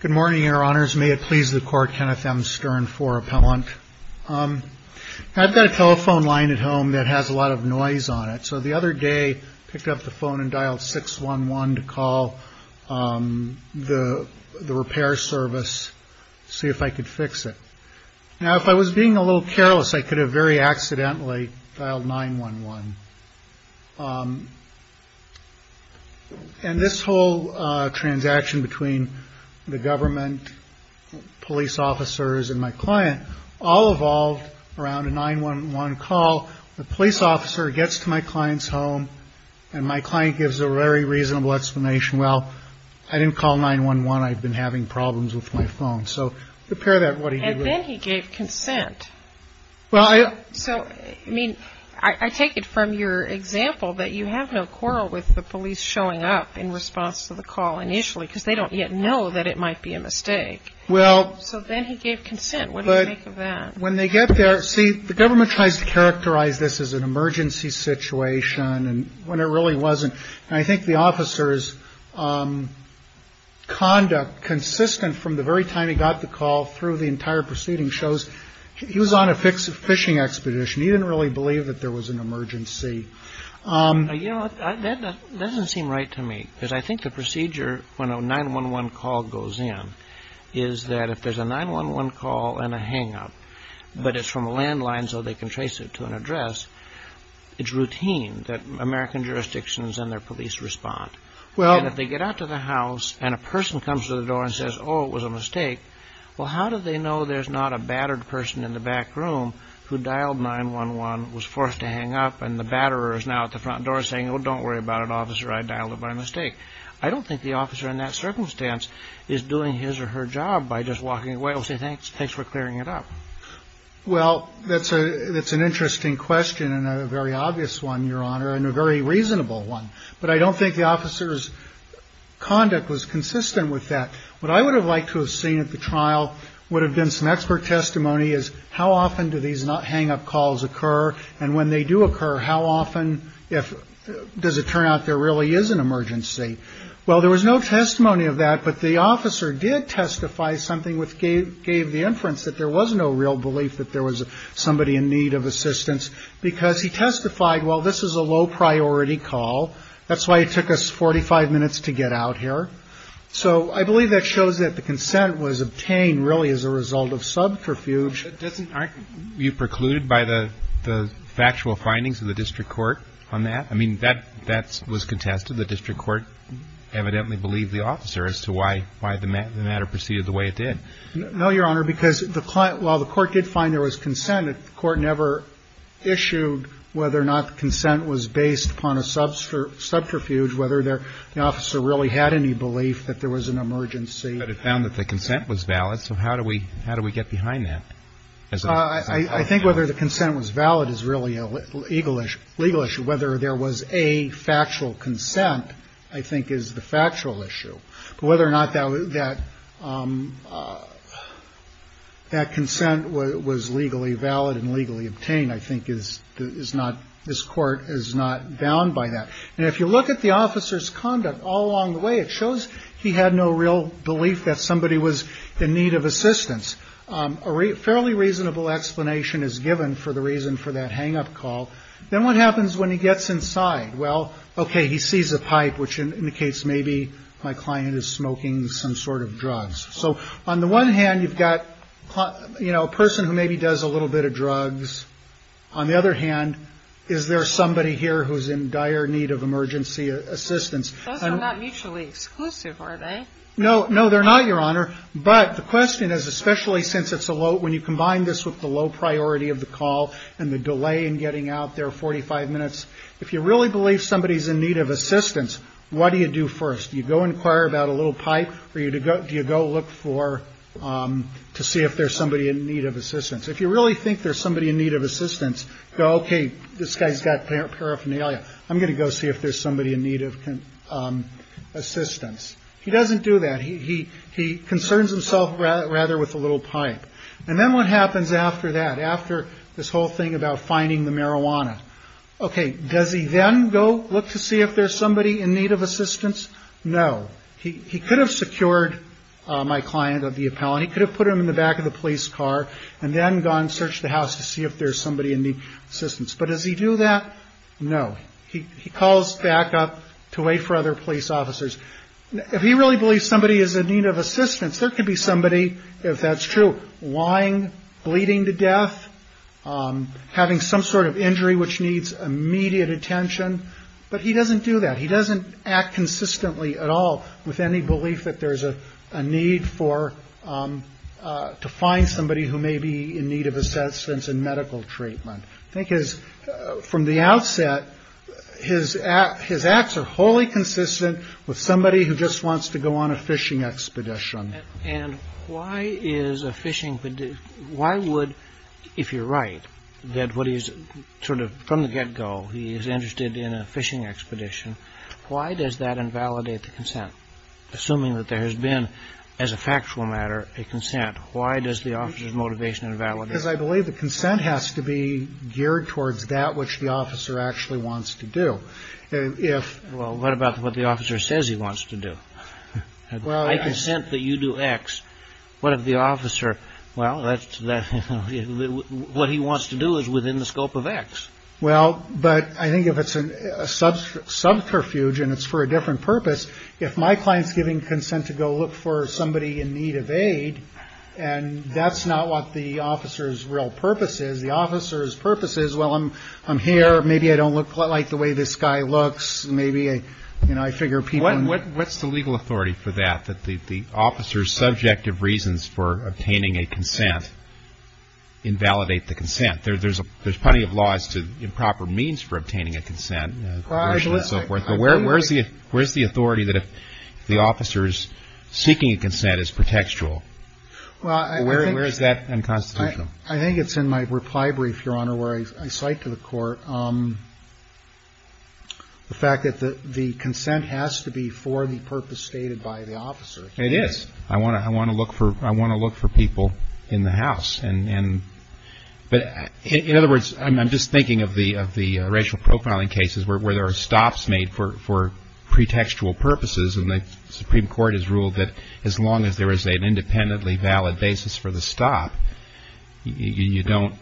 Good morning, your honors. May it please the court, Kenneth M. Stern, IV Appellant. I've got a telephone line at home that has a lot of noise on it, so the other day I picked up the phone and dialed 6-1-1 to call the repair service to see if I could fix it. Now if I was being a little careless, I could have very accidentally dialed 9-1-1. And this whole transaction between the government, police officers, and my client all evolved around a 9-1-1 call. The police officer gets to my client's home, and my client gives a very reasonable explanation, well, I didn't call 9-1-1, I've been having problems with my phone. So compare that to what he did with... And then he gave consent. Well, I... So, I mean, I take it from your example that you have no quarrel with the police showing up in response to the call initially, because they don't yet know that it might be a mistake. Well... So then he gave consent. What do you make of that? When they get there, see, the government tries to characterize this as an emergency situation, and when it really wasn't. And I think the officer's conduct, consistent from the very time he got the call through the entire proceeding, shows he was on a fishing expedition. He didn't really believe that there was an emergency. You know, that doesn't seem right to me, because I think the procedure, when a 9-1-1 call goes in, is that if there's a 9-1-1 call and a hang-up, but it's from a landline so they can trace it to an address, it's routine that American jurisdictions and their police respond. Well... And if they get out to the house, and a person comes to the door and says, oh, it was a mistake, well, how do they know there's not a battered person in the back room who dialed 9-1-1, was forced to hang up, and the batterer is now at the front door saying, oh, don't worry about it, officer, I dialed it by mistake. I don't think the officer in that circumstance is doing his or her job by just walking away. I'll say thanks for clearing it up. Well, that's an interesting question, and a very obvious one, Your Honor, and a very reasonable one. But I don't think the officer's conduct was consistent with that. What I would have liked to have seen at the trial would have been some expert testimony as how often do these hang-up calls occur, and when they do occur, how often does it turn out there really is an emergency. Well, there was no testimony of that, but the officer did testify something which gave the inference that there was no real belief that there was somebody in need of assistance, because he testified, well, this is a low-priority call. That's why it took us 45 minutes to get out here. So I believe that shows that the consent was obtained really as a result of subterfuge. But doesn't aren't you precluded by the factual findings of the district court on that? I mean, that was contested. The district court evidently believed the officer as to why the matter proceeded the way it did. No, Your Honor, because while the court did find there was consent, the court never issued whether or not the consent was based upon a subterfuge, whether the officer really had any belief that there was an emergency. But it found that the consent was valid, so how do we get behind that? I think whether the consent was valid is really a legal issue. Whether there was a factual consent, I think, is the factual issue. But whether or not that consent was legally valid and legally obtained, I think, is not – this Court is not bound by that. And if you look at the officer's conduct all along the way, it shows he had no real belief that somebody was in need of assistance. A fairly reasonable explanation is given for the reason for that hang-up call. Then what happens when he gets inside? Well, okay, he sees a pipe, which indicates maybe my client is smoking some sort of drugs. So on the one hand, you've got a person who maybe does a little bit of drugs. On the other hand, is there somebody here who's in dire need of emergency assistance? Those are not mutually exclusive, are they? No, no, they're not, Your Honor. But the question is, especially since it's a low – when you combine this with the low priority of the call and the delay in getting out there, 45 minutes, if you really believe somebody's in need of assistance, what do you do first? You go inquire about a little pipe, or do you go look for – to see if there's somebody in need of assistance? If you really think there's somebody in need of assistance, go, okay, this guy's got paraphernalia. I'm going to go see if there's somebody in need of assistance. He doesn't do that. He concerns himself rather with the little pipe. And then what happens after that, after this whole thing about finding the marijuana? Okay, does he then go look to see if there's somebody in need of assistance? No. He could have secured my client of the appellant. He could have put him in the back of the police car and then gone search the house to see if there's somebody in need of assistance. But does he do that? No. He calls back up to wait for other police officers. If he really believes somebody is in need of assistance, there could be somebody, if that's true, lying, bleeding to death, having some sort of injury which needs immediate attention. But he doesn't do that. He doesn't act consistently at all with any belief that there's a need for, to find somebody who may be in need of assistance in medical treatment. I think his, from the outset, his acts are wholly consistent with somebody who just wants to go on a fishing expedition. And why is a fishing, why would, if you're right, that what he's sort of from the get Why does that invalidate the consent? Assuming that there has been, as a factual matter, a consent, why does the officer's motivation invalidate? Because I believe the consent has to be geared towards that which the officer actually wants to do. If... Well, what about what the officer says he wants to do? Well... I consent that you do X. What if the officer, well, that's, that, you know, what he wants to do is within the scope of X. Well, but I think if it's a subterfuge, and it's for a different purpose, if my client's giving consent to go look for somebody in need of aid, and that's not what the officer's real purpose is, the officer's purpose is, well, I'm here, maybe I don't look like the way this guy looks, maybe, you know, I figure people... What's the legal authority for that, that the officer's subjective reasons for obtaining a consent invalidate the consent? There's plenty of laws to improper means for obtaining a consent, abortion and so forth. But where's the authority that if the officer's seeking a consent is pretextual? Well, I think... Where is that unconstitutional? I think it's in my reply brief, Your Honor, where I cite to the court the fact that the consent has to be for the purpose stated by the officer. It is. I want to look for people in the house. But in other words, I'm just thinking of the racial profiling cases where there are stops made for pretextual purposes, and the Supreme Court has ruled that as long as there is an independently valid basis for the stop, you don't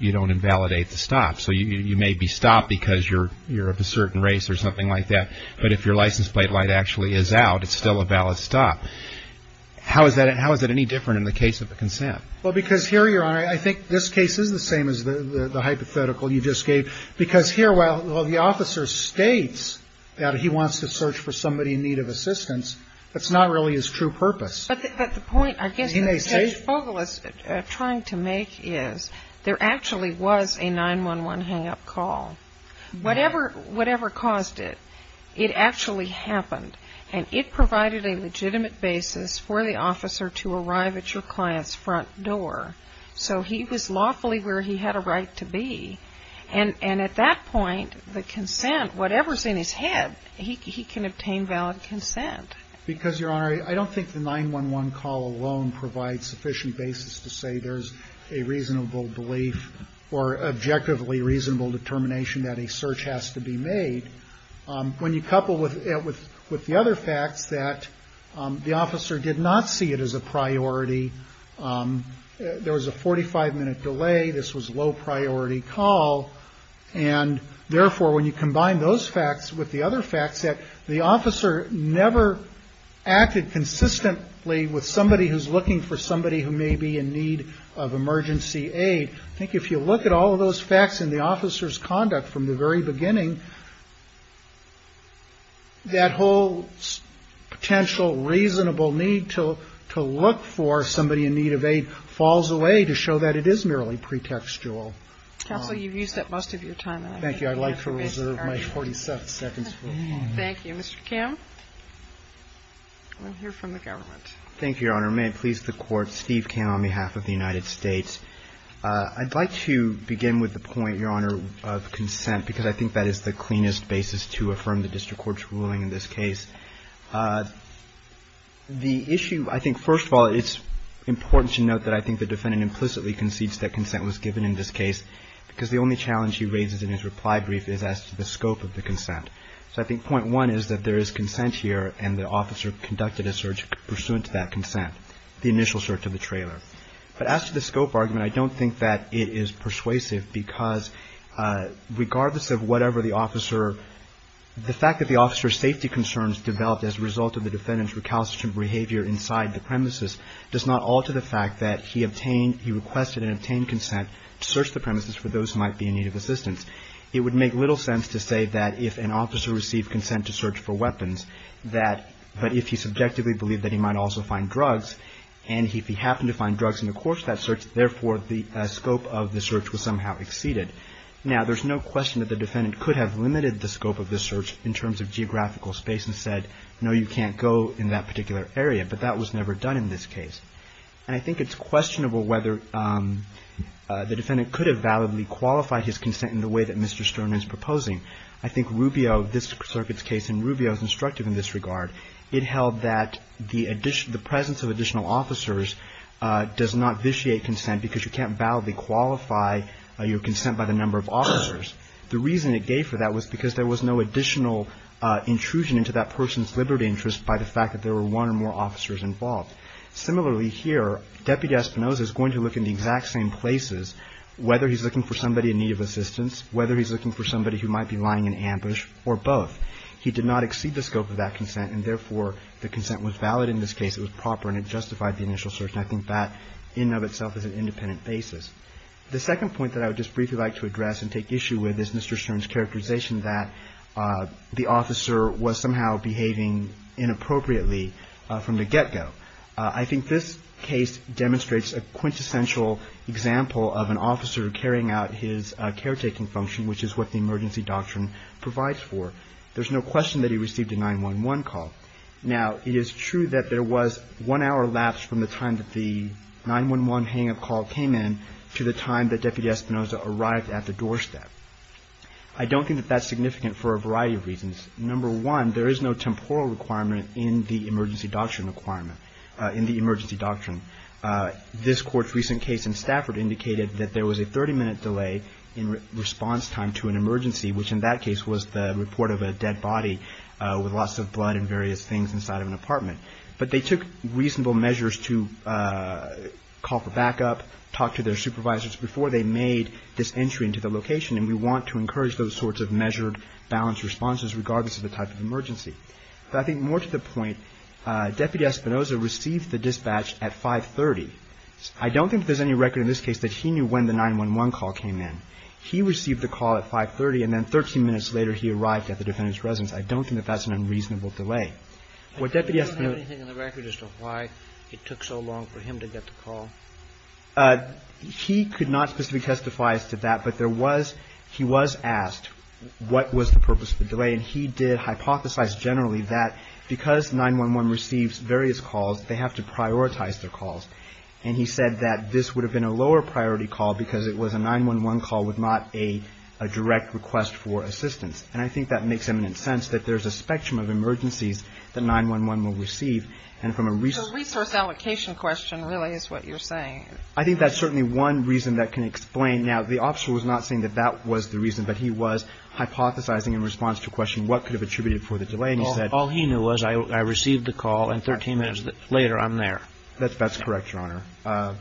invalidate the stop. So you may be stopped because you're of a certain race or something like that, but if your license plate light actually is out, it's still a valid stop. How is that any different in the case of a consent? Well, because here, Your Honor, I think this case is the same as the hypothetical you just gave, because here, while the officer states that he wants to search for somebody in need of assistance, that's not really his true purpose. But the point, I guess, that Judge Fogel is trying to make is there actually was a 9-1-1 hang-up call. Whatever caused it, it actually happened. And it provided a legitimate basis for the officer to arrive at your client's front door. So he was lawfully where he had a right to be. And at that point, the consent, whatever's in his head, he can obtain valid consent. Because Your Honor, I don't think the 9-1-1 call alone provides sufficient basis to say there's a reasonable belief or objectively reasonable determination that a search has to be made. When you couple it with the other facts, that the officer did not see it as a priority, there was a 45-minute delay, this was a low-priority call, and therefore, when you combine those facts with the other facts, that the officer never acted consistently with somebody who's in need of emergency aid, I think if you look at all of those facts and the officer's conduct from the very beginning, that whole potential reasonable need to look for somebody in need of aid falls away to show that it is merely pretextual. Counsel, you've used up most of your time. Thank you. I'd like to reserve my 40 seconds for a moment. Thank you. Mr. Kim, we'll hear from the government. Thank you, Your Honor. May it please the Court, Steve Kim on behalf of the United States. I'd like to begin with the point, Your Honor, of consent, because I think that is the cleanest basis to affirm the district court's ruling in this case. The issue, I think, first of all, it's important to note that I think the defendant implicitly concedes that consent was given in this case, because the only challenge he raises in his reply brief is as to the scope of the consent. So I think point one is that there is consent here and the officer conducted a search pursuant to that consent, the initial search of the trailer. But as to the scope argument, I don't think that it is persuasive, because regardless of whatever the officer, the fact that the officer's safety concerns developed as a result of the defendant's recalcitrant behavior inside the premises does not alter the fact that he obtained, he requested and obtained consent to search the premises for those who might be in need of assistance. It would make little sense to say that if an officer received consent to search for drugs, and if he happened to find drugs in the course of that search, therefore the scope of the search was somehow exceeded. Now there's no question that the defendant could have limited the scope of the search in terms of geographical space and said, no, you can't go in that particular area, but that was never done in this case. And I think it's questionable whether the defendant could have validly qualified his consent in the way that Mr. Stern is proposing. I think Rubio, this circuit's case, and Rubio is instructive in this regard. It held that the presence of additional officers does not vitiate consent because you can't validly qualify your consent by the number of officers. The reason it gave for that was because there was no additional intrusion into that person's liberty interest by the fact that there were one or more officers involved. Similarly here, Deputy Espinosa is going to look in the exact same places, whether he's looking for somebody in need of assistance, whether he's looking for somebody who might be lying in ambush, or both. He did not exceed the scope of that consent, and therefore, the consent was valid in this case. It was proper and it justified the initial search. And I think that in and of itself is an independent basis. The second point that I would just briefly like to address and take issue with is Mr. Stern's characterization that the officer was somehow behaving inappropriately from the get-go. I think this case demonstrates a quintessential example of an officer carrying out his caretaking function, which is what the emergency doctrine provides for. There's no question that he received a 911 call. Now, it is true that there was one hour lapse from the time that the 911 hang-up call came in to the time that Deputy Espinosa arrived at the doorstep. I don't think that that's significant for a variety of reasons. Number one, there is no temporal requirement in the emergency doctrine. This Court's recent case in Stafford indicated that there was a 30-minute delay in response time to an emergency, which in that case was the report of a dead body with lots of blood and various things inside of an apartment. But they took reasonable measures to call for backup, talk to their supervisors before they made this entry into the location, and we want to encourage those sorts of measured balanced responses regardless of the type of emergency. But I think more to the point, Deputy Espinosa received the dispatch at 5.30. I don't think there's any record in this case that he knew when the 911 call came in. He received the call at 5.30, and then 13 minutes later he arrived at the defendant's residence. I don't think that that's an unreasonable delay. What Deputy Espinosa… Do you have anything in the record as to why it took so long for him to get the call? He could not specifically testify as to that, but there was – he was asked what was the because 911 receives various calls, they have to prioritize their calls. And he said that this would have been a lower priority call because it was a 911 call with not a direct request for assistance. And I think that makes eminent sense, that there's a spectrum of emergencies that 911 will receive. And from a resource… So a resource allocation question really is what you're saying. I think that's certainly one reason that can explain – now, the officer was not saying that that was the reason, but he was hypothesizing in response to a question what could have contributed for the delay. And he said… Well, all he knew was I received the call and 13 minutes later I'm there. That's correct, Your Honor.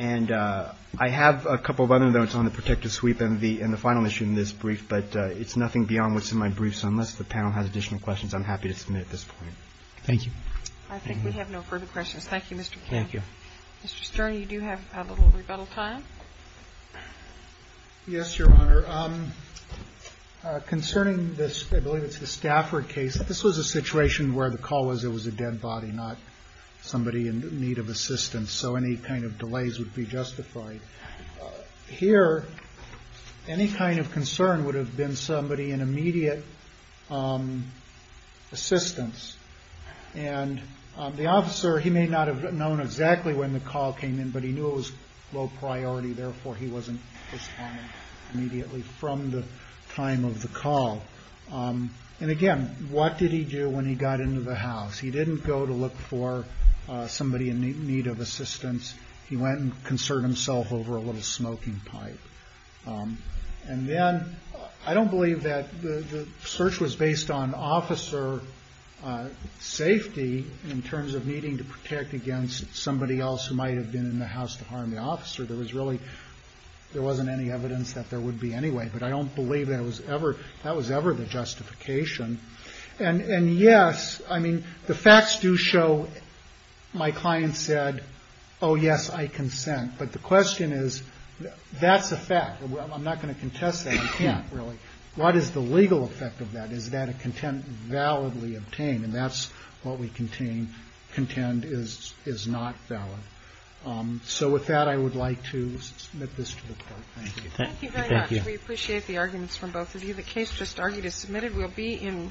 And I have a couple of other notes on the protective sweep and the final issue in this brief, but it's nothing beyond what's in my brief, so unless the panel has additional questions I'm happy to submit at this point. Thank you. I think we have no further questions. Thank you, Mr. Kim. Thank you. Mr. Sterney, you do have a little rebuttal time. Yes, Your Honor. Your Honor, concerning this – I believe it's the Stafford case – this was a situation where the call was it was a dead body, not somebody in need of assistance, so any kind of delays would be justified. Here any kind of concern would have been somebody in immediate assistance, and the officer – he may not have known exactly when the call came in, but he knew it was low priority, therefore he wasn't responding immediately from the time of the call. And again, what did he do when he got into the house? He didn't go to look for somebody in need of assistance. He went and concerned himself over a little smoking pipe. And then I don't believe that the search was based on officer safety in terms of needing to protect against somebody else who might have been in the house to harm the officer. There was really – there wasn't any evidence that there would be anyway, but I don't believe that was ever the justification. And yes, I mean, the facts do show – my client said, oh, yes, I consent, but the question is that's a fact. I'm not going to contest that. I can't, really. What is the legal effect of that? Is that a content validly obtained, and that's what we contend is not valid. So with that, I would like to submit this to the court. Thank you. Thank you very much. We appreciate the arguments from both of you. The case just argued is submitted.